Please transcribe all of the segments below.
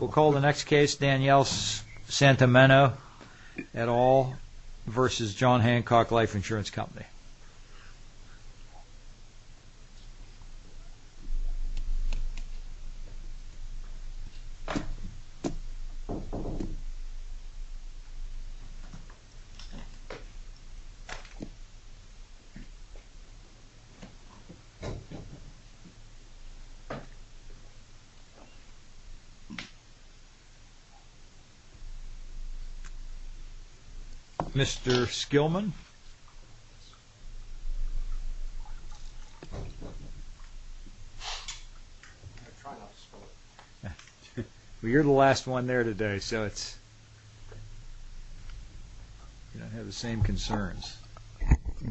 We'll call the next case Danielle Santomenno et al. v. John Hancock Life Insurance Company.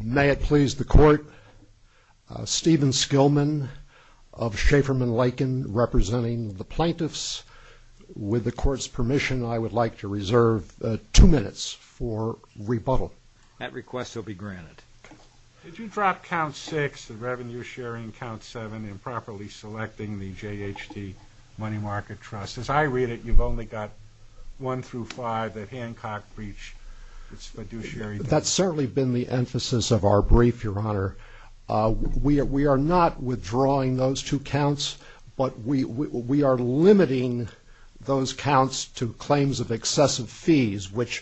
May it please the Court, Stephen Skillman of Schaeferman-Lycan, representing the Plano plaintiffs. With the Court's permission, I would like to reserve two minutes for rebuttal. That request will be granted. Did you drop count six, the revenue sharing count seven, improperly selecting the J.H.D. Money Market Trust? As I read it, you've only got one through five that Hancock breached fiduciary terms. That's certainly been the emphasis of our brief, Your Honor. We are not withdrawing those two counts, but we are limiting those counts to claims of excessive fees, which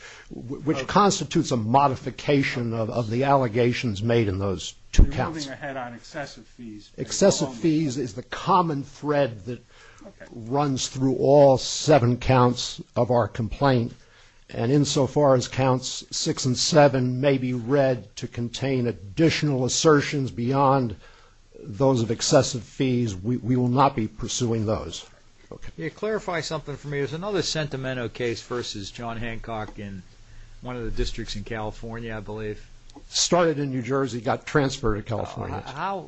constitutes a modification of the allegations made in those two counts. You're moving ahead on excessive fees. Excessive fees is the common thread that runs through all seven counts of our complaint, and insofar as counts six and seven may be read to contain additional assertions beyond those of excessive fees, we will not be pursuing those. Can you clarify something for me? There's another sentimental case versus John Hancock in one of the districts in California, I believe. Started in New Jersey, got transferred to California. How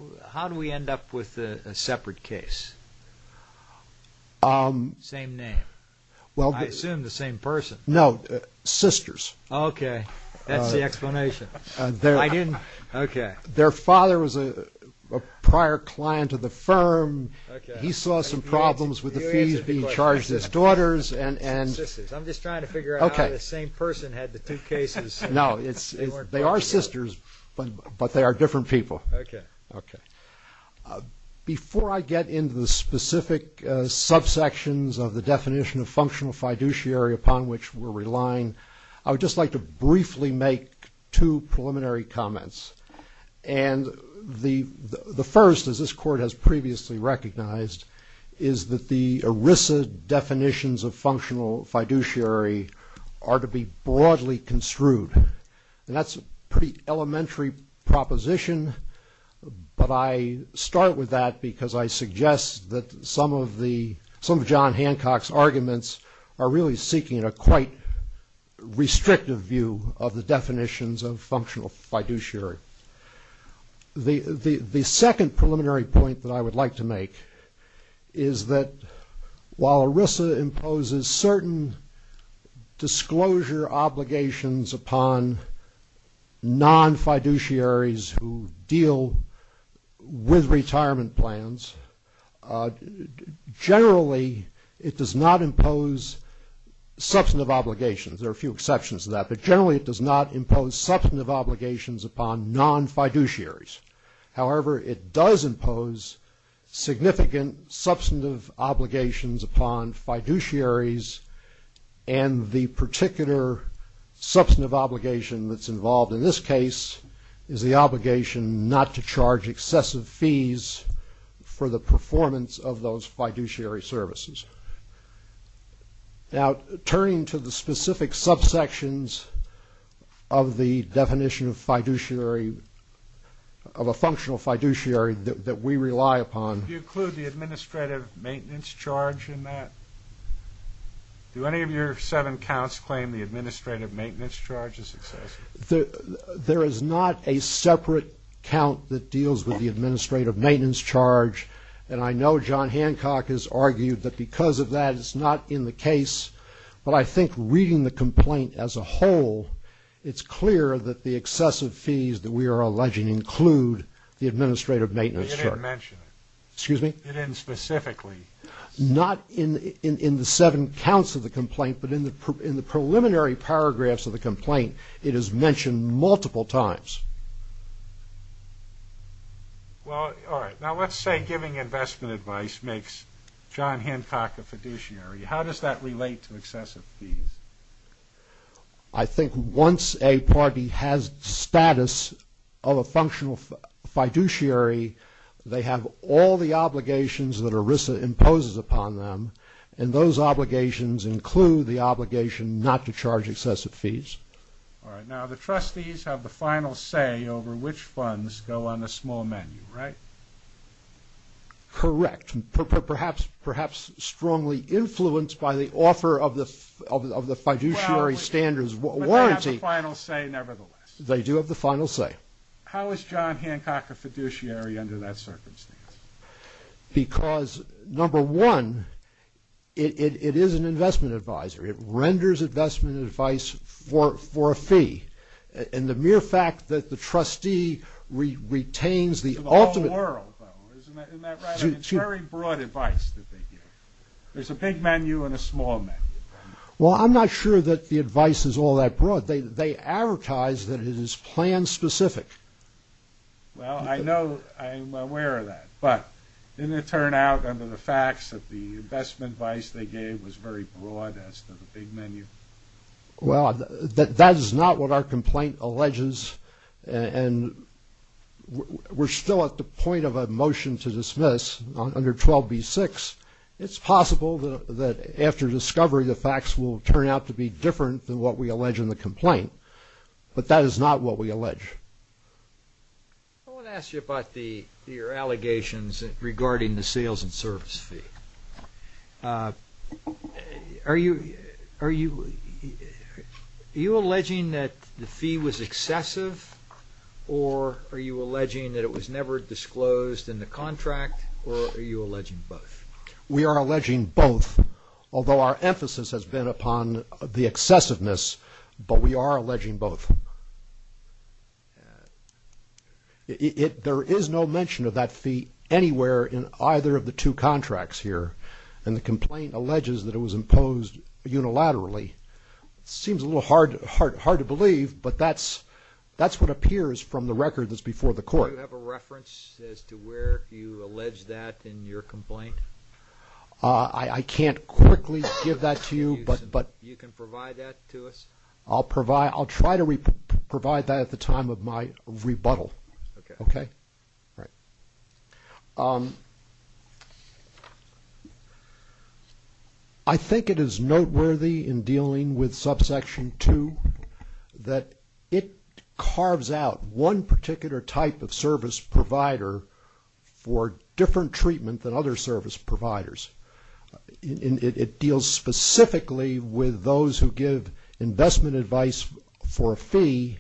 do we end up with a separate case? Same name? I assume the same person. No, sisters. Okay, that's the explanation. Their father was a prior client of the firm. He saw some problems with the fees being charged to his daughters. I'm just trying to figure out how the same person had the two cases. No, they are sisters, but they are different people. Okay. Before I get into the specific subsections of the definition of functional fiduciary upon which we're relying, I would just like to briefly make two preliminary comments. And the first, as this court has previously recognized, is that the ERISA definitions of functional fiduciary are to be broadly construed. And that's a pretty elementary proposition, but I start with that because I suggest that some of John Hancock's arguments are really seeking a quite restrictive view of the definitions of functional fiduciary. The second preliminary point that I would like to make is that while ERISA imposes certain disclosure obligations upon non-fiduciaries who deal with retirement plans, generally it does not impose substantive obligations. There are a few exceptions to that. But generally it does not impose substantive obligations upon non-fiduciaries. However, it does impose significant substantive obligations upon fiduciaries and the particular substantive obligation that's involved in this case is the obligation not to charge excessive fees for the performance of those fiduciary services. Now, turning to the specific subsections of the definition of fiduciary, of a functional fiduciary that we rely upon. Do you include the administrative maintenance charge in that? Do any of your seven counts claim the administrative maintenance charge is excessive? There is not a separate count that deals with the administrative maintenance charge, and I know John Hancock has argued that because of that it's not in the case. But I think reading the complaint as a whole, it's clear that the excessive fees that we are alleging include the administrative maintenance charge. You didn't mention it. Excuse me? You didn't specifically. Not in the seven counts of the complaint, but in the preliminary paragraphs of the complaint, it is mentioned multiple times. Well, all right. Now, let's say giving investment advice makes John Hancock a fiduciary. How does that relate to excessive fees? I think once a party has status of a functional fiduciary, they have all the obligations that ERISA imposes upon them, and those obligations include the obligation not to charge excessive fees. All right. Now, the trustees have the final say over which funds go on the small menu, right? Correct. Perhaps strongly influenced by the offer of the fiduciary standards warranty. But they have the final say nevertheless. They do have the final say. How is John Hancock a fiduciary under that circumstance? Because, number one, it is an investment advisor. It renders investment advice for a fee. And the mere fact that the trustee retains the ultimate. To the whole world, though. Isn't that right? It's very broad advice that they give. There's a big menu and a small menu. Well, I'm not sure that the advice is all that broad. They advertise that it is plan-specific. Well, I know. I'm aware of that. But didn't it turn out under the facts that the investment advice they gave was very broad as to the big menu? Well, that is not what our complaint alleges, and we're still at the point of a motion to dismiss under 12B-6. It's possible that after discovery the facts will turn out to be different than what we allege in the complaint. But that is not what we allege. I want to ask you about your allegations regarding the sales and service fee. Are you alleging that the fee was excessive, or are you alleging that it was never disclosed in the contract, or are you alleging both? We are alleging both, although our emphasis has been upon the excessiveness. But we are alleging both. There is no mention of that fee anywhere in either of the two contracts here, and the complaint alleges that it was imposed unilaterally. It seems a little hard to believe, but that's what appears from the record that's before the court. Do you have a reference as to where you allege that in your complaint? I can't quickly give that to you. You can provide that to us? I'll try to provide that at the time of my rebuttal. Okay. All right. I think it is noteworthy in dealing with subsection 2 that it carves out one particular type of service provider for different treatment than other service providers. It deals specifically with those who give investment advice for a fee,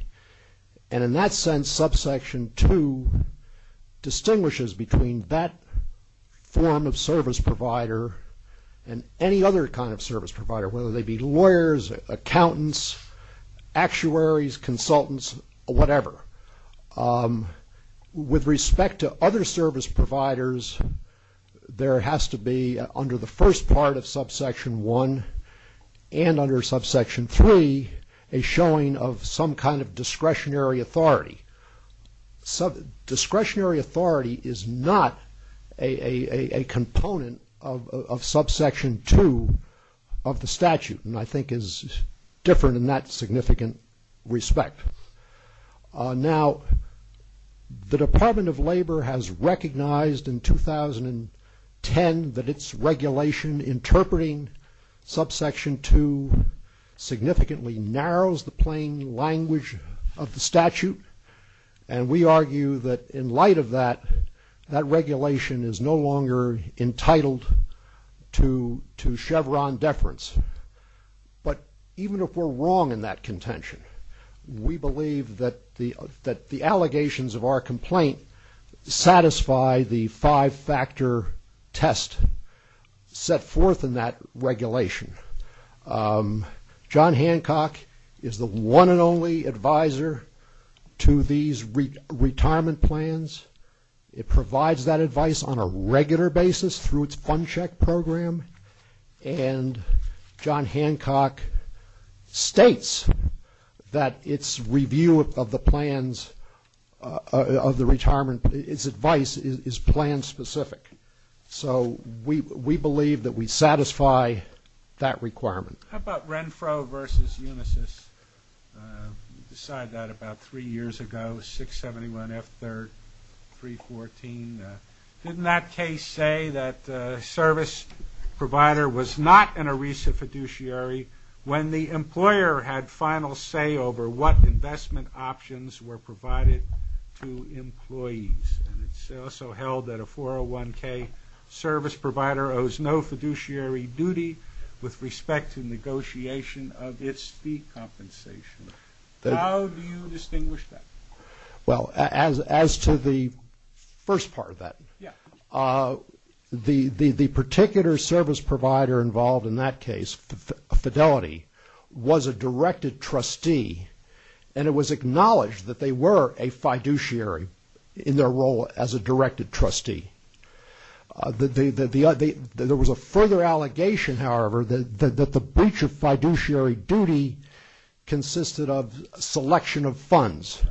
and in that sense subsection 2 distinguishes between that form of service provider and any other kind of service provider, whether they be lawyers, accountants, actuaries, consultants, whatever. With respect to other service providers, there has to be under the first part of subsection 1 and under subsection 3 a showing of some kind of discretionary authority. Discretionary authority is not a component of subsection 2 of the statute, and I think is different in that significant respect. Now, the Department of Labor has recognized in 2010 that its regulation interpreting subsection 2 significantly narrows the plain language of the statute, and we argue that in light of that, that regulation is no longer entitled to Chevron deference. But even if we're wrong in that contention, we believe that the allegations of our complaint satisfy the five-factor test set forth in that regulation. John Hancock is the one and only advisor to these retirement plans. It provides that advice on a regular basis through its fund check program, and John Hancock states that its review of the plans of the retirement, its advice, is plan-specific. So we believe that we satisfy that requirement. How about Renfro versus Unisys? We decided that about three years ago, 671 F3, 314. Didn't that case say that a service provider was not an ERISA fiduciary when the employer had final say over what investment options were provided to employees? And it's also held that a 401k service provider owes no fiduciary duty with respect to negotiation of its fee compensation. How do you distinguish that? Well, as to the first part of that, the particular service provider involved in that case, Fidelity, was a directed trustee, and it was acknowledged that they were a fiduciary in their role as a directed trustee. There was a further allegation, however, that the breach of fiduciary duty consisted of selection of funds,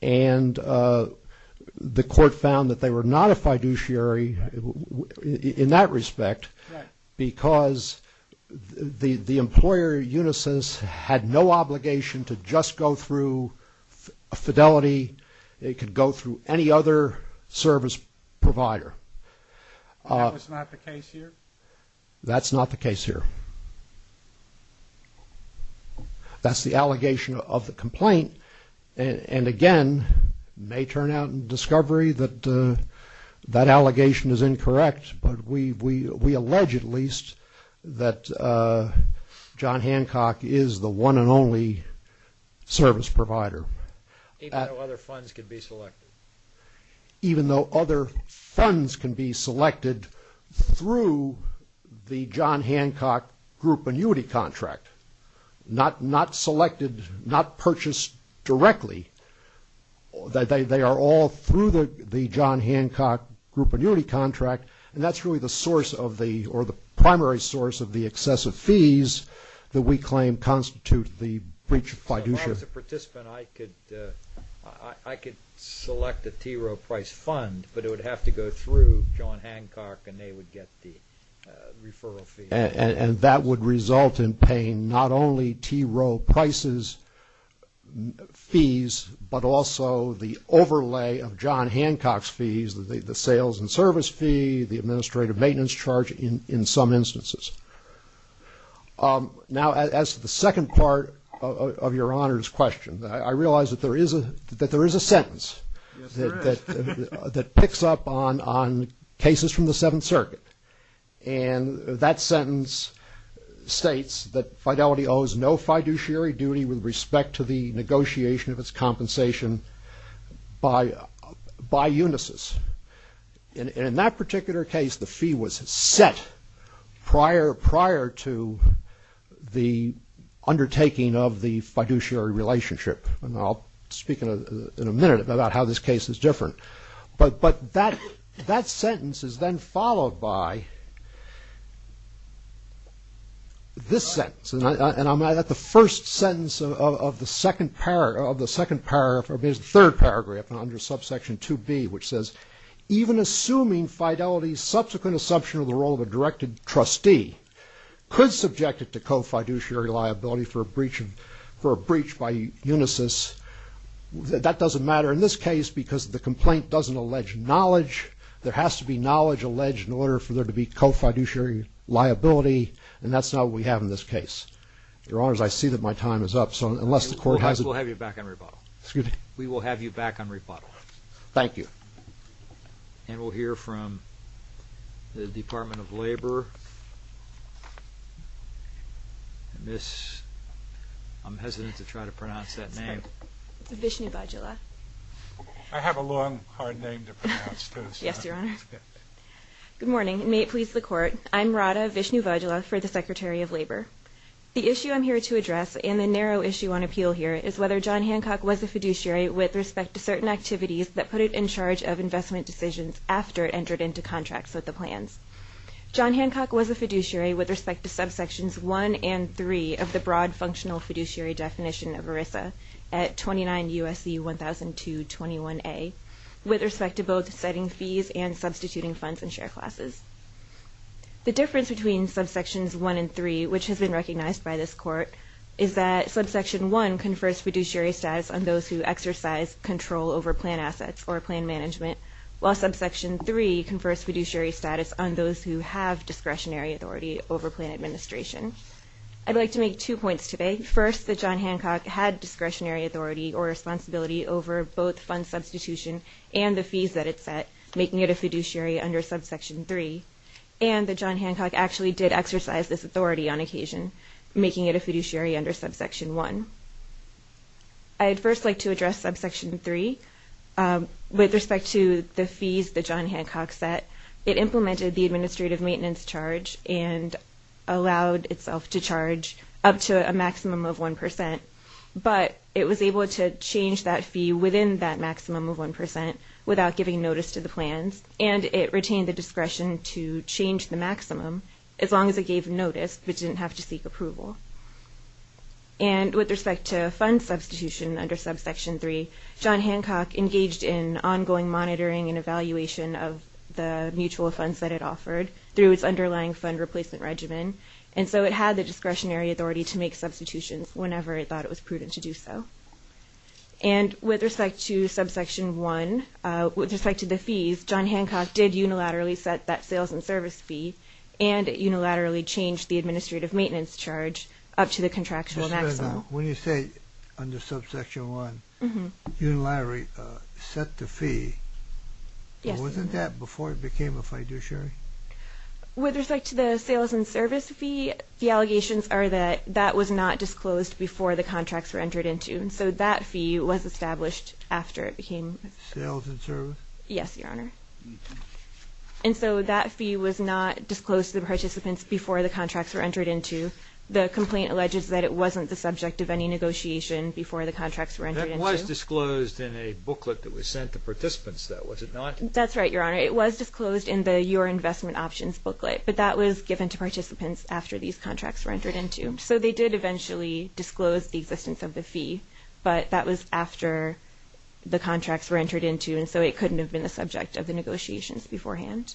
and the court found that they were not a fiduciary in that respect because the employer, Unisys, had no obligation to just go through Fidelity. They could go through any other service provider. That was not the case here? That's not the case here. That's the allegation of the complaint, and again, it may turn out in discovery that that allegation is incorrect, but we allege at least that John Hancock is the one and only service provider. Even though other funds can be selected? Even though other funds can be selected through the John Hancock group annuity contract, not selected, not purchased directly. They are all through the John Hancock group annuity contract, and that's really the primary source of the excessive fees that we claim constitute the breach of fiduciary. As a participant, I could select a TRO price fund, but it would have to go through John Hancock and they would get the referral fee. And that would result in paying not only TRO prices fees, but also the overlay of John Hancock's fees, the sales and service fee, the administrative maintenance charge in some instances. Now, as to the second part of Your Honor's question, I realize that there is a sentence that picks up on cases from the Seventh Circuit, and that sentence states that Fidelity owes no fiduciary duty with respect to the negotiation of its compensation by Unisys. And in that particular case, the fee was set prior to the undertaking of the fiduciary relationship. And I'll speak in a minute about how this case is different. But that sentence is then followed by this sentence, and I'm at the first sentence of the second paragraph, or maybe it's the third paragraph, under subsection 2B, which says, even assuming Fidelity's subsequent assumption of the role of a directed trustee could subject it to co-fiduciary liability for a breach by Unisys, that doesn't matter in this case because the complaint doesn't allege knowledge. There has to be knowledge alleged in order for there to be co-fiduciary liability, and that's not what we have in this case. Your Honors, I see that my time is up. We'll have you back on rebuttal. We will have you back on rebuttal. Thank you. And we'll hear from the Department of Labor. I'm hesitant to try to pronounce that name. Vishnu Vajula. I have a long, hard name to pronounce. Yes, Your Honor. Good morning. May it please the Court. I'm Radha Vishnu Vajula for the Secretary of Labor. The issue I'm here to address, and the narrow issue on appeal here, is whether John Hancock was a fiduciary with respect to certain activities that put it in charge of investment decisions after it entered into contracts with the plans. John Hancock was a fiduciary with respect to subsections 1 and 3 of the broad functional fiduciary definition of ERISA at 29 U.S.C. 100221A with respect to both setting fees and substituting funds and share classes. The difference between subsections 1 and 3, which has been recognized by this Court, is that subsection 1 confers fiduciary status on those who exercise control over plan assets or plan management, while subsection 3 confers fiduciary status on those who have discretionary authority over plan administration. I'd like to make two points today. First, that John Hancock had discretionary authority or responsibility over both fund substitution and the fees that it set, making it a fiduciary under subsection 3. And that John Hancock actually did exercise this authority on occasion, making it a fiduciary under subsection 1. I'd first like to address subsection 3 with respect to the fees that John Hancock set. It implemented the administrative maintenance charge and allowed itself to charge up to a maximum of 1 percent, but it was able to change that fee within that maximum of 1 percent without giving notice to the plans, and it retained the discretion to change the maximum as long as it gave notice but didn't have to seek approval. And with respect to fund substitution under subsection 3, John Hancock engaged in ongoing monitoring and evaluation of the mutual funds that it offered through its underlying fund replacement regimen, and so it had the discretionary authority to make substitutions whenever it thought it was prudent to do so. And with respect to subsection 1, with respect to the fees, John Hancock did unilaterally set that sales and service fee and unilaterally changed the administrative maintenance charge up to the contractual maximum. When you say under subsection 1, unilaterally set the fee, wasn't that before it became a fiduciary? With respect to the sales and service fee, the allegations are that that was not disclosed before the contracts were entered into, and so that fee was established after it became... Sales and service? Yes, Your Honor. And so that fee was not disclosed to the participants before the contracts were entered into. The complaint alleges that it wasn't the subject of any negotiation before the contracts were entered into. That was disclosed in a booklet that was sent to participants, though, was it not? That's right, Your Honor. It was disclosed in the Your Investment Options booklet, but that was given to participants after these contracts were entered into. So they did eventually disclose the existence of the fee, but that was after the contracts were entered into, and so it couldn't have been the subject of the negotiations beforehand.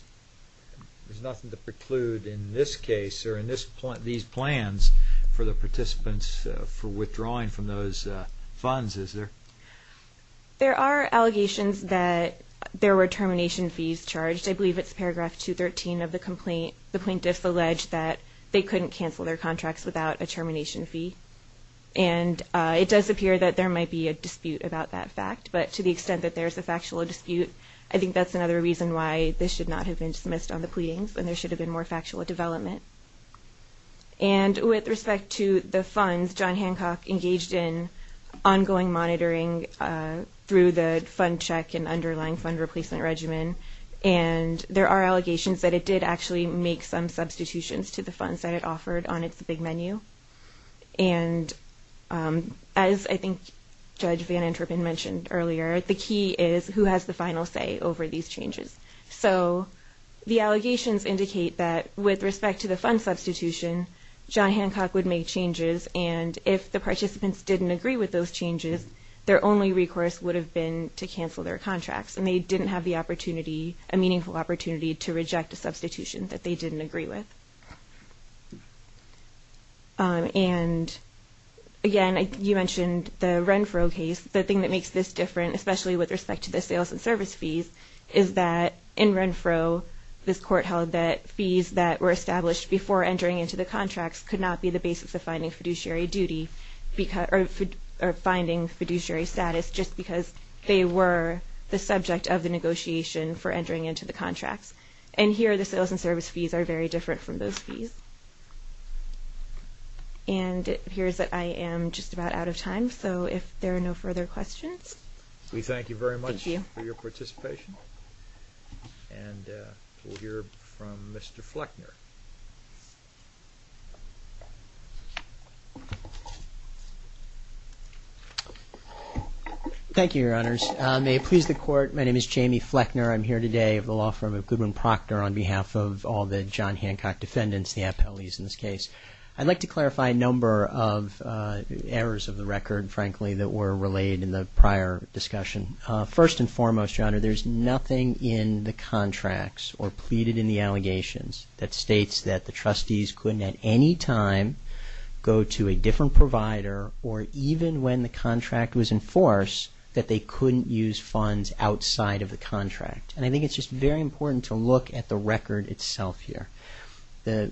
There's nothing to preclude in this case or in these plans for the participants for withdrawing from those funds, is there? There are allegations that there were termination fees charged. I believe it's paragraph 213 of the complaint. The plaintiffs allege that they couldn't cancel their contracts without a termination fee, and it does appear that there might be a dispute about that fact, but to the extent that there's a factual dispute, I think that's another reason why this should not have been dismissed on the pleadings and there should have been more factual development. And with respect to the funds, John Hancock engaged in ongoing monitoring through the fund check and underlying fund replacement regimen, and there are allegations that it did actually make some substitutions to the funds that it offered on its big menu. And as I think Judge Van Interpen mentioned earlier, the key is who has the final say over these changes. So the allegations indicate that with respect to the fund substitution, John Hancock would make changes, and if the participants didn't agree with those changes, their only recourse would have been to cancel their contracts, and they didn't have the opportunity, a meaningful opportunity, to reject a substitution that they didn't agree with. And again, you mentioned the Renfro case. The thing that makes this different, especially with respect to the sales and service fees, is that in Renfro this court held that fees that were established before entering into the contracts could not be the basis of finding fiduciary status just because they were the subject of the negotiation for entering into the contracts. And here the sales and service fees are very different from those fees. And it appears that I am just about out of time, so if there are no further questions. We thank you very much for your participation. And we'll hear from Mr. Fleckner. Thank you, Your Honors. May it please the Court, my name is Jamie Fleckner. I'm here today at the law firm of Goodwin Proctor on behalf of all the John Hancock defendants, the appellees in this case. I'd like to clarify a number of errors of the record, frankly, that were related in the prior discussion. First and foremost, Your Honor, there's nothing in the contracts or pleaded in the allegations that states that the trustees couldn't at any time go to a different provider or even when the contract was in force that they couldn't use funds outside of the contract. And I think it's just very important to look at the record itself here. The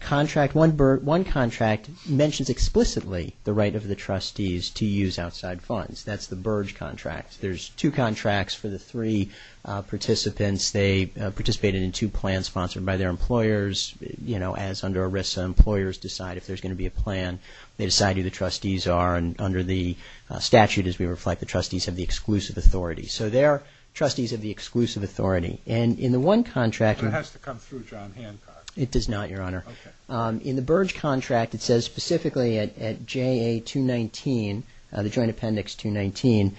contract, one contract mentions explicitly the right of the trustees to use outside funds. That's the Burge contract. There's two contracts for the three participants. They participated in two plans sponsored by their employers, you know, as under ERISA, employers decide if there's going to be a plan. They decide who the trustees are, and under the statute, as we reflect, the trustees have the exclusive authority. So they are trustees of the exclusive authority. And in the one contract… It has to come through John Hancock. It does not, Your Honor. Okay. In the Burge contract, it says specifically at JA 219, the Joint Appendix 219,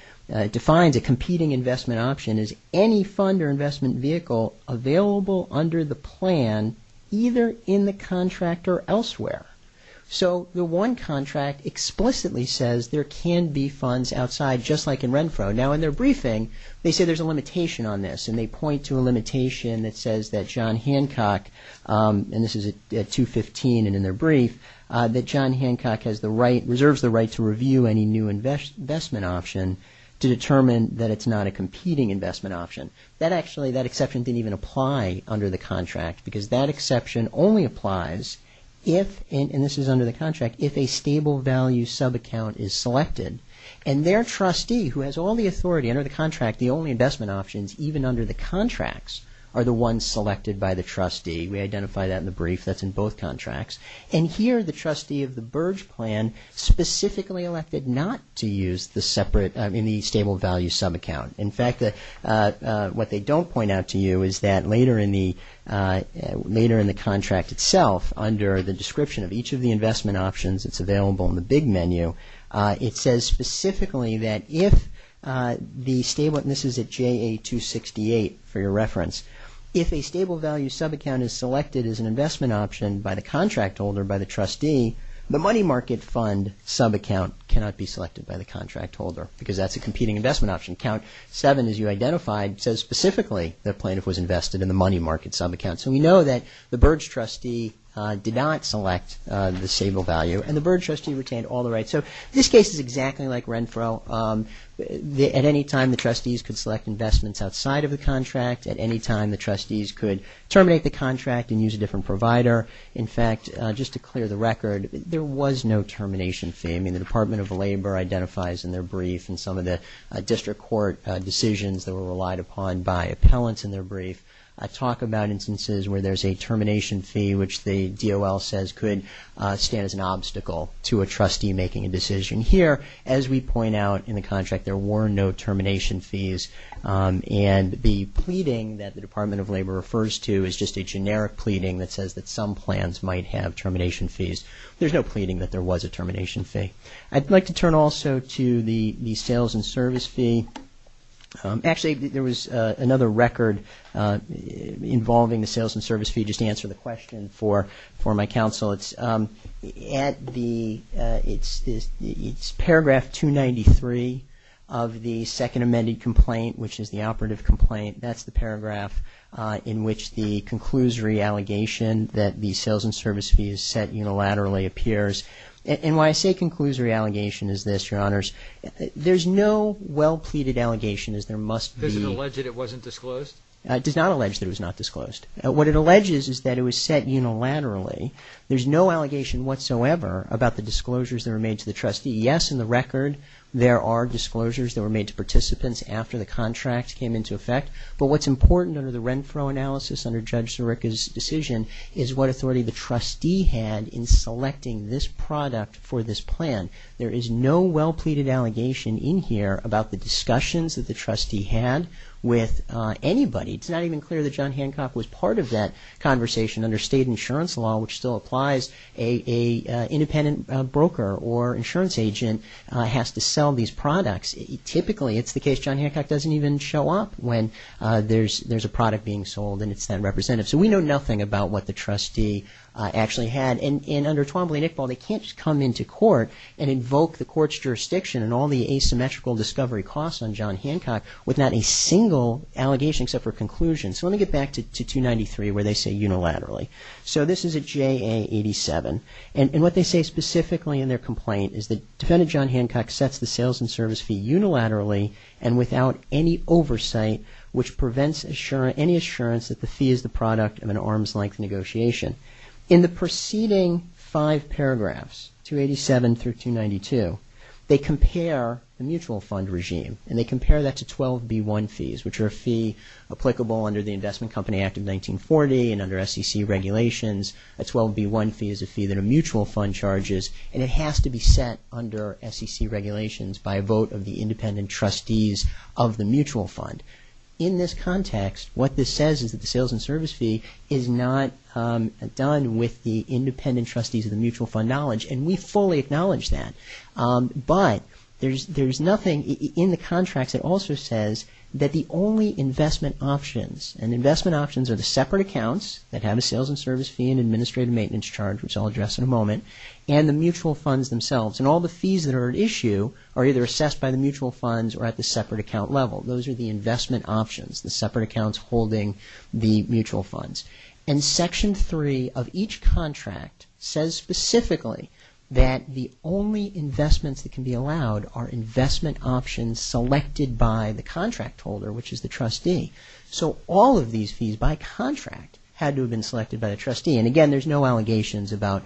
defines a competing investment option as any fund or investment vehicle available under the plan either in the contract or elsewhere. So the one contract explicitly says there can be funds outside just like in Renfro. Now in their briefing, they say there's a limitation on this, and they point to a limitation that says that John Hancock, and this is at 215 and in their brief, that John Hancock has the right, reserves the right to review any new investment option to determine that it's not a competing investment option. That actually, that exception didn't even apply under the contract because that exception only applies if, and this is under the contract, if a stable value subaccount is selected, and their trustee who has all the authority under the contract, the only investment options even under the contracts are the ones selected by the trustee. We identify that in the brief that's in both contracts. And here, the trustee of the Burge plan specifically elected not to use the separate, in the stable value subaccount. In fact, what they don't point out to you is that later in the contract itself, under the description of each of the investment options, it's available in the big menu, it says specifically that if the stable, and this is at JA-268 for your reference, if a stable value subaccount is selected as an investment option by the contract holder, by the trustee, the money market fund subaccount cannot be selected by the contract holder because that's a competing investment option. Count 7, as you identified, says specifically the plaintiff was invested in the money market subaccount. So we know that the Burge trustee did not select the stable value and the Burge trustee retained all the rights. So this case is exactly like Renfro. At any time, the trustees could select investments outside of the contract. At any time, the trustees could terminate the contract and use a different provider. In fact, just to clear the record, there was no termination fee. I mean, the Department of Labor identifies in their brief and some of the district court decisions that were relied upon by appellants in their brief talk about instances where there's a termination fee, which the DOL says could stand as an obstacle to a trustee making a decision. Here, as we point out in the contract, there were no termination fees. And the pleading that the Department of Labor refers to is just a generic pleading that says that some plans might have termination fees. There's no pleading that there was a termination fee. I'd like to turn also to the sales and service fee. Actually, there was another record involving the sales and service fee. Just to answer the question for my counsel. It's paragraph 293 of the second amended complaint, which is the operative complaint. That's the paragraph in which the conclusory allegation that the sales and service fee is set unilaterally appears. And why I say conclusory allegation is this, Your Honors. There's no well-pleaded allegation as there must be. Does it allege that it wasn't disclosed? It does not allege that it was not disclosed. What it alleges is that it was set unilaterally. There's no allegation whatsoever about the disclosures that were made to the trustee. Yes, in the record, there are disclosures that were made to participants after the contract came into effect. But what's important under the Renfro analysis, under Judge Sirica's decision, is what authority the trustee had in selecting this product for this plan. There is no well-pleaded allegation in here about the discussions that the trustee had with anybody. It's not even clear that John Hancock was part of that conversation under state insurance law, which still applies. An independent broker or insurance agent has to sell these products. Typically, it's the case John Hancock doesn't even show up when there's a product being sold and it's not represented. So we know nothing about what the trustee actually had. And under Twombly and Iqbal, they can't just come into court and invoke the court's jurisdiction and all the asymmetrical discovery costs on John Hancock with not a single allegation except for a conclusion. So let me get back to 293 where they say unilaterally. So this is at JA 87. And what they say specifically in their complaint is that Defendant John Hancock sets the sales and service fee unilaterally and without any oversight which prevents any assurance that the fee is the product of an arm's-length negotiation. In the preceding five paragraphs, 287 through 292, they compare the mutual fund regime and they compare that to 12B1 fees, which are a fee applicable under the Investment Company Act of 1940 and under SEC regulations. A 12B1 fee is a fee that a mutual fund charges and it has to be set under SEC regulations by a vote of the independent trustees of the mutual fund. In this context, what this says is that the sales and service fee is not done with the independent trustees of the mutual fund knowledge. And we fully acknowledge that. But there's nothing in the contracts that also says that the only investment options and investment options are the separate accounts that have a sales and service fee and administrative maintenance charge, which I'll address in a moment, and the mutual funds themselves. And all the fees that are at issue are either assessed by the mutual funds or at the separate account level. Those are the investment options, the separate accounts holding the mutual funds. And Section 3 of each contract says specifically that the only investments that can be allowed are investment options selected by the contract holder, which is the trustee. So all of these fees by contract had to have been selected by the trustee. And again, there's no allegations about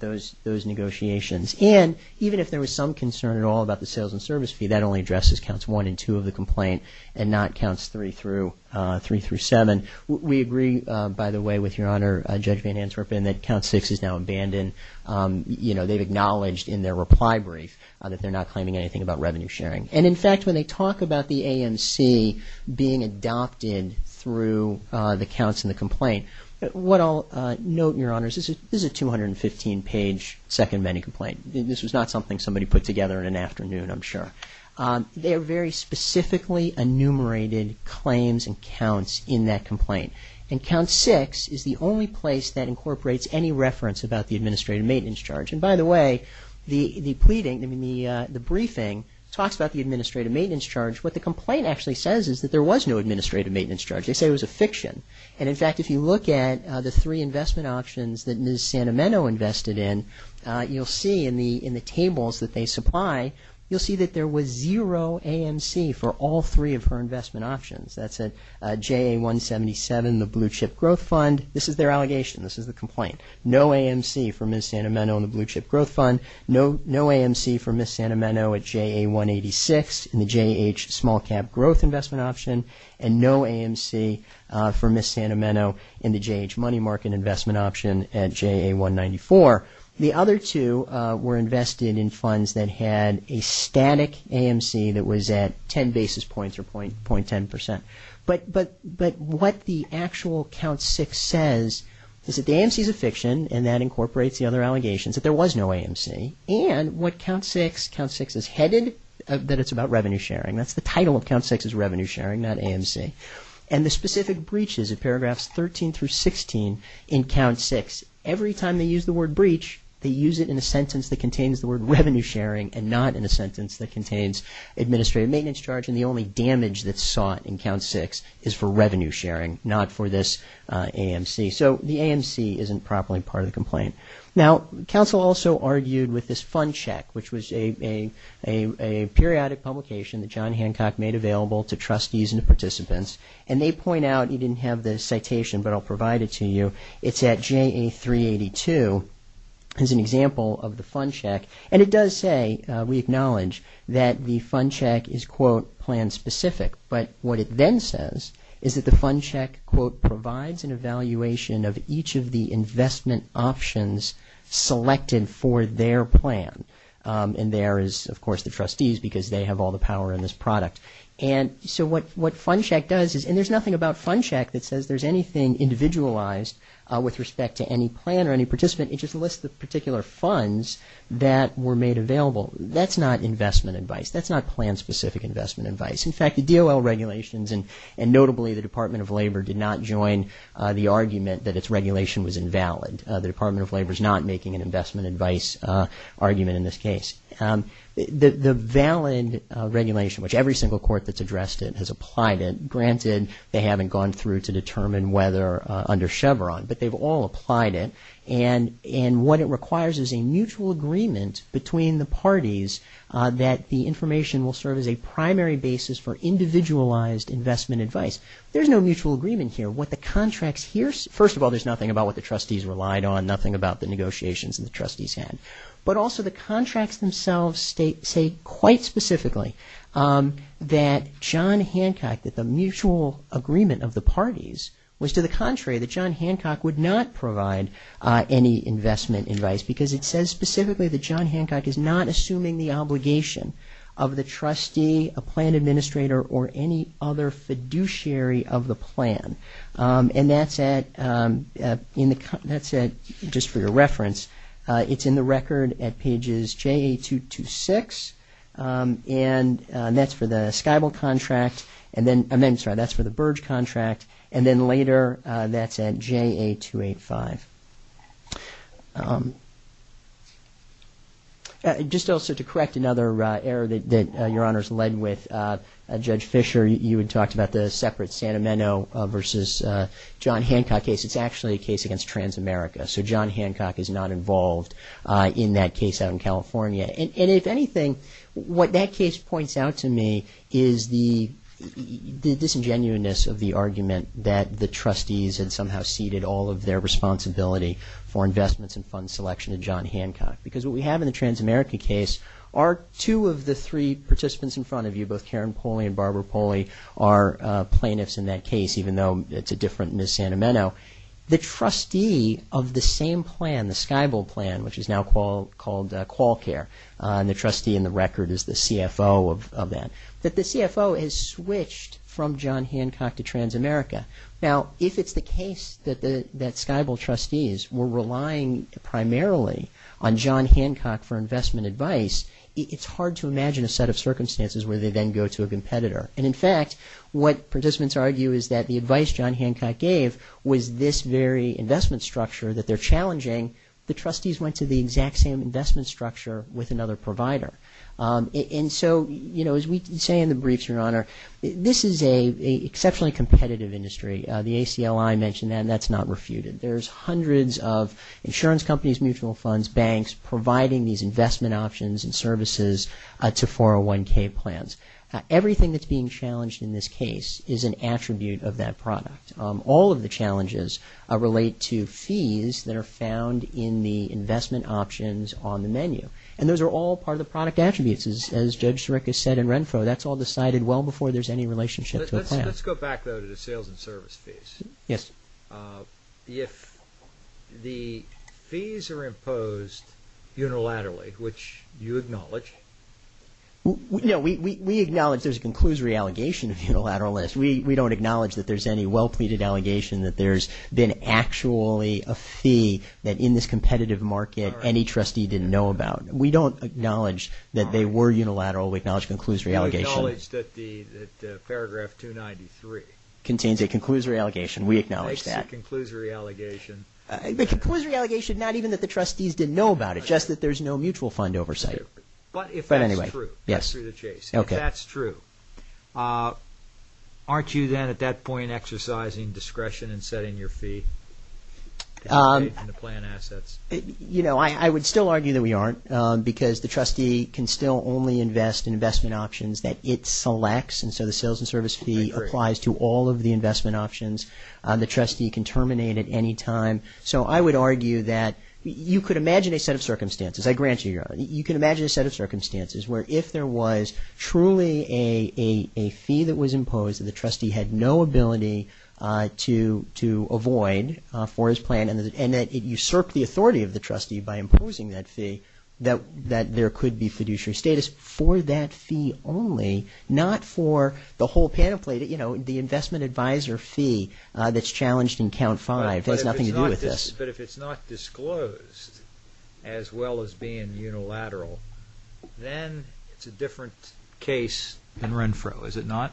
those negotiations. And even if there was some concern at all about the sales and service fee, that only addresses counts 1 and 2 of the complaint and not counts 3 through 7. We agree, by the way, with Your Honor, Judge Van Antwerpen, that count 6 is now abandoned. You know, they've acknowledged in their reply brief that they're not claiming anything about revenue sharing. And, in fact, when they talk about the ANC being adopted through the counts in the complaint, what I'll note, Your Honors, is a 215-page second-menu complaint. This was not something somebody put together in an afternoon, I'm sure. They are very specifically enumerated claims and counts in that complaint. And count 6 is the only place that incorporates any reference about the administrative maintenance charge. And, by the way, the briefing talks about the administrative maintenance charge. What the complaint actually says is that there was no administrative maintenance charge. They say it was a fiction. And, in fact, if you look at the three investment options that Ms. Sanameno invested in, you'll see in the tables that they supply, you'll see that there was zero AMC for all three of her investment options. That's at JA-177, the blue-chip growth fund. This is their allegation. This is the complaint. No AMC for Ms. Sanameno in the blue-chip growth fund. No AMC for Ms. Sanameno at JA-186 in the JAH small-cap growth investment option. And no AMC for Ms. Sanameno in the JAH money market investment option at JA-194. The other two were invested in funds that had a static AMC that was at 10 basis points or 0.10%. But what the actual count 6 says is that the AMC is a fiction and that incorporates the other allegations, that there was no AMC. And what count 6, count 6 is headed, that it's about revenue sharing. That's the title of count 6 is revenue sharing, not AMC. And the specific breaches of paragraphs 13 through 16 in count 6, every time they use the word breach, they use it in a sentence that contains the word revenue sharing and not in a sentence that contains administrative maintenance charge and the only damage that's sought in count 6 is for revenue sharing, not for this AMC. So the AMC isn't properly part of the complaint. Now, counsel also argued with this fund check, which was a periodic publication that John Hancock made available to trustees and participants. And they point out, you didn't have the citation, but I'll provide it to you. It's at JA 382 as an example of the fund check. And it does say, we acknowledge, that the fund check is, quote, plan specific. But what it then says is that the fund check, quote, provides an evaluation of each of the investment options selected for their plan. And there is, of course, the trustees because they have all the power in this product. And so what fund check does is, and there's nothing about fund check that says there's anything individualized with respect to any plan or any participant. It just lists the particular funds that were made available. That's not investment advice. That's not plan specific investment advice. In fact, the DOL regulations and notably the Department of Labor did not join the argument that its regulation was invalid. The Department of Labor is not making an investment advice argument in this case. The valid regulation, which every single court that's addressed it has applied it. Granted, they haven't gone through to determine whether under Chevron, but they've all applied it. And what it requires is a mutual agreement between the parties that the information will serve as a primary basis for individualized investment advice. There's no mutual agreement here. What the contracts here, first of all, there's nothing about what the trustees relied on, nothing about the negotiations that the trustees had. But also the contracts themselves state quite specifically that John Hancock, that the mutual agreement of the parties was to the contrary, that John Hancock would not provide any investment advice because it says specifically that John Hancock is not assuming the obligation of the trustee, a plan administrator, or any other fiduciary of the plan. And that's at, just for your reference, it's in the record at pages JA-226, and that's for the Skybull contract, I'm sorry, that's for the Burge contract, and then later that's at JA-285. Just also to correct another error that Your Honors led with, Judge Fischer, you had talked about the separate Santa Meno versus John Hancock case. It's actually a case against Transamerica, so John Hancock is not involved in that case out in California. And if anything, what that case points out to me is the disingenuousness of the argument that the trustees had somehow ceded all of their responsibility for investments and fund selection to John Hancock. Because what we have in the Transamerica case are two of the three participants in front of you, both Karen Poley and Barbara Poley are plaintiffs in that case, even though it's a different Ms. Santa Meno. The trustee of the same plan, the Skybull plan, which is now called QualCare, and the trustee in the record is the CFO of that, that the CFO has switched from John Hancock to Transamerica. Now, if it's the case that Skybull trustees were relying primarily on John Hancock versus where they then go to a competitor. And in fact, what participants argue is that the advice John Hancock gave was this very investment structure that they're challenging. The trustees went to the exact same investment structure with another provider. And so, you know, as we say in the briefs, Your Honor, this is an exceptionally competitive industry. The ACLI mentioned that and that's not refuted. There's hundreds of insurance companies, mutual funds, banks, providing these investment options and services to 401K plans. Everything that's being challenged in this case is an attribute of that product. All of the challenges relate to fees that are found in the investment options on the menu. And those are all part of the product attributes. As Judge Sirica said in Renfro, that's all decided well before there's any relationship to a plan. Let's go back, though, to the sales and service fees. Yes. If the fees are imposed unilaterally, which you acknowledge. No, we acknowledge there's a conclusory allegation of unilateral list. We don't acknowledge that there's any well-pleaded allegation that there's been actually a fee that in this competitive market any trustee didn't know about. We don't acknowledge that they were unilateral. We acknowledge conclusory allegation. We acknowledge that paragraph 293. Contains a conclusory allegation. We acknowledge that. Makes a conclusory allegation. A conclusory allegation not even that the trustees didn't know about it, just that there's no mutual fund oversight. But if that's true, that's through the chase. Yes. If that's true, aren't you then at that point exercising discretion in setting your fee? I would still argue that we aren't, because the trustee can still only invest in investment options that it selects, and so the sales and service fee applies to all of the investment options. The trustee can terminate at any time. So I would argue that you could imagine a set of circumstances. I grant you your honor. You could imagine a set of circumstances where if there was truly a fee that was imposed that the trustee had no ability to avoid for his plan and that it usurped the authority of the trustee by imposing that fee, that there could be fiduciary status for that fee only, not for the whole pamphlet, you know, the investment advisor fee that's challenged in count five. It has nothing to do with this. But if it's not disclosed as well as being unilateral, then it's a different case than Renfro, is it not?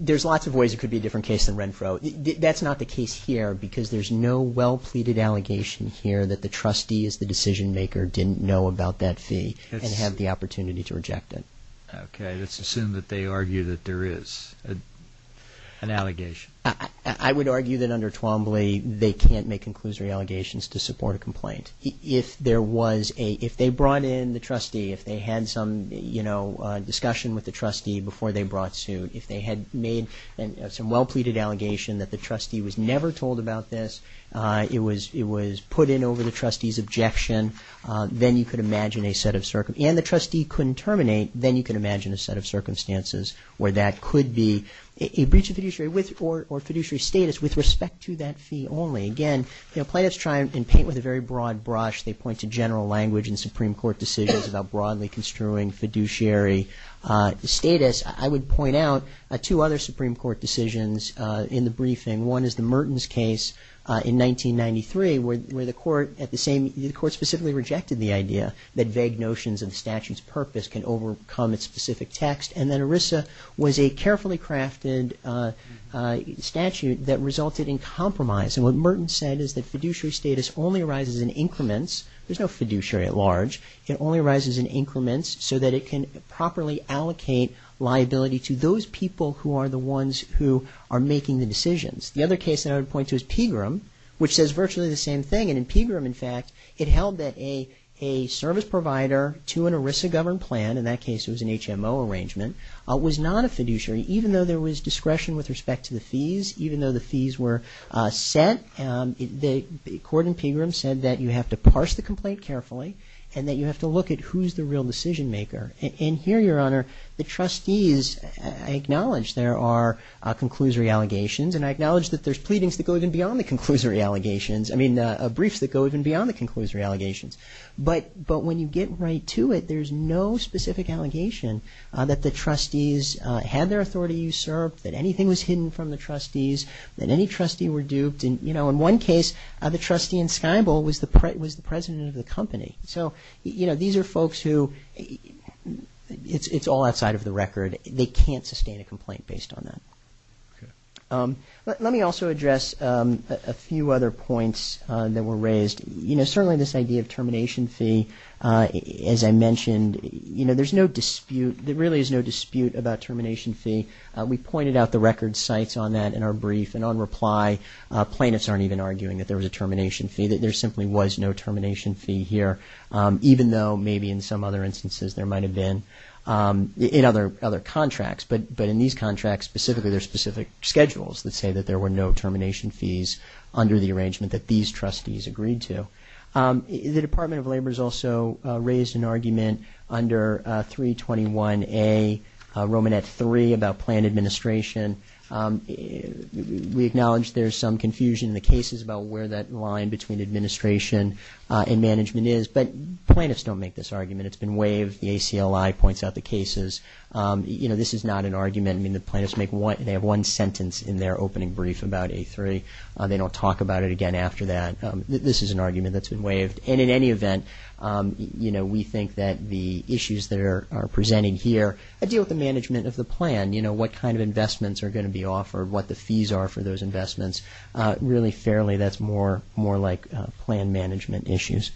There's lots of ways it could be a different case than Renfro. That's not the case here because there's no well-pleaded allegation here that the trustee is the decision-maker, didn't know about that fee, and had the opportunity to reject it. Okay. Let's assume that they argue that there is an allegation. I would argue that under Twombly, they can't make conclusory allegations to support a complaint. If there was a, if they brought in the trustee, if they had some, you know, discussion with the trustee before they brought suit, if they had made some well-pleaded allegation that the trustee was never told about this, it was put in over the trustee's objection, then you could imagine a set of circumstances. And the trustee couldn't terminate, then you could imagine a set of circumstances where that could be a breach of fiduciary or fiduciary status with respect to that fee only. Again, you know, plaintiffs try and paint with a very broad brush. They point to general language in Supreme Court decisions about broadly construing fiduciary status. I would point out two other Supreme Court decisions in the briefing. One is the Merton's case in 1993, where the court at the same, the court specifically rejected the idea that vague notions of the statute's purpose can overcome its specific text. And then ERISA was a carefully crafted statute that resulted in compromise. And what Merton said is that fiduciary status only arises in increments. There's no fiduciary at large. It only arises in increments so that it can properly allocate liability to those people who are the ones who are making the decisions. The other case that I would point to is Pegram, which says virtually the same thing. And in Pegram, in fact, it held that a service provider to an ERISA-governed plan, in that case it was an HMO arrangement, was not a fiduciary, even though there was discretion with respect to the fees, even though the fees were set. The court in Pegram said that you have to parse the complaint carefully and that you have to look at who's the real decision maker. And here, Your Honor, the trustees acknowledge there are conclusory allegations, and I acknowledge that there's pleadings that go even beyond the conclusory allegations, I mean briefs that go even beyond the conclusory allegations. But when you get right to it, there's no specific allegation that the trustees had their authority usurped, that anything was hidden from the trustees, that any trustee were duped. And, you know, in one case, the trustee in Skybull was the president of the company. So, you know, these are folks who it's all outside of the record. They can't sustain a complaint based on that. Let me also address a few other points that were raised. You know, certainly this idea of termination fee, as I mentioned, you know, there's no dispute, there really is no dispute about termination fee. We pointed out the record sites on that in our brief, and on reply, plaintiffs aren't even arguing that there was a termination fee, that there simply was no termination fee here, even though maybe in some other instances there might have been in other contracts. But in these contracts specifically, there's specific schedules that say that there were no termination fees under the arrangement that these trustees agreed to. The Department of Labor has also raised an argument under 321A, Romanette 3, about planned administration. We acknowledge there's some confusion in the cases about where that line between administration and management is, but plaintiffs don't make this argument. It's been waived. The ACLI points out the cases. You know, this is not an argument. I mean, the plaintiffs make one, they have one sentence in their opening brief about A3. They don't talk about it again after that. This is an argument that's been waived. And in any event, you know, we think that the issues that are presented here, I deal with the management of the plan, you know, what kind of investments are going to be offered, what the fees are for those investments. Really fairly, that's more like plan management issues.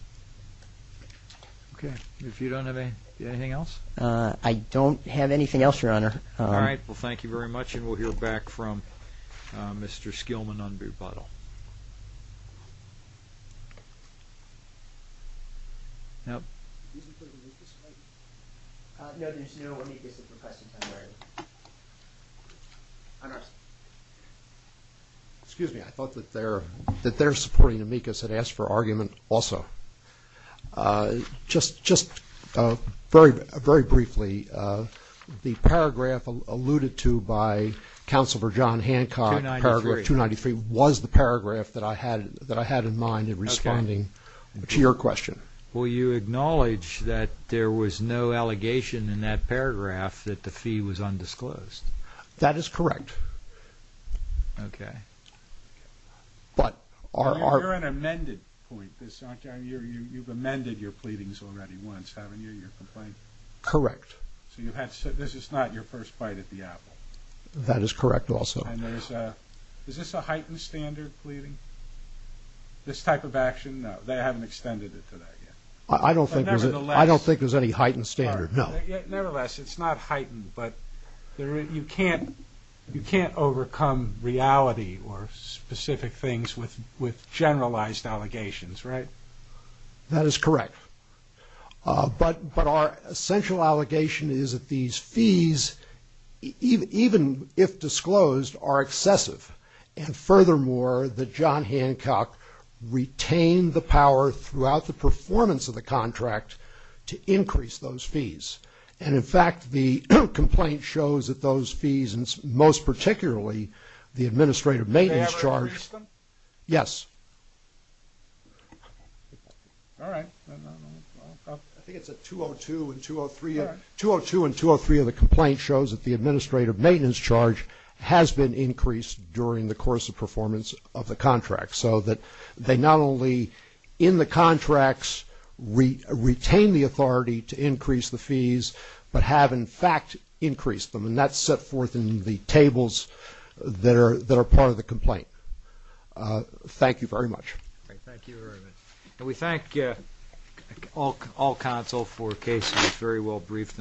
Okay. If you don't have anything else? I don't have anything else, Your Honor. All right. Well, thank you very much. And we'll hear back from Mr. Skillman on Buttle. Excuse me. I thought that they're supporting amicus and asked for argument also. Just very briefly, the paragraph alluded to by Counselor John Hancock, paragraph 293, was the paragraph that I had in mind in responding to your question. Well, you acknowledge that there was no allegation in that paragraph that the fee was undisclosed. That is correct. Okay. You're an amended point, aren't you? You've amended your pleadings already once, haven't you, your complaint? Correct. So this is not your first bite at the apple? That is correct also. And is this a heightened standard pleading, this type of action? No, they haven't extended it to that yet. I don't think there's any heightened standard, no. Nevertheless, it's not heightened, but you can't overcome reality or specific things with generalized allegations, right? That is correct. But our essential allegation is that these fees, even if disclosed, are excessive. And furthermore, that John Hancock retained the power throughout the performance of the contract to increase those fees. And, in fact, the complaint shows that those fees, and most particularly the administrative maintenance charge. They haven't increased them? Yes. All right. I think it's at 202 and 203. 202 and 203 of the complaint shows that the administrative maintenance charge has been increased during the course of performance of the contract, so that they not only, in the contracts, retain the authority to increase the fees, but have, in fact, increased them. And that's set forth in the tables that are part of the complaint. Thank you very much. Thank you very much. And we thank all counsel for cases very well briefed.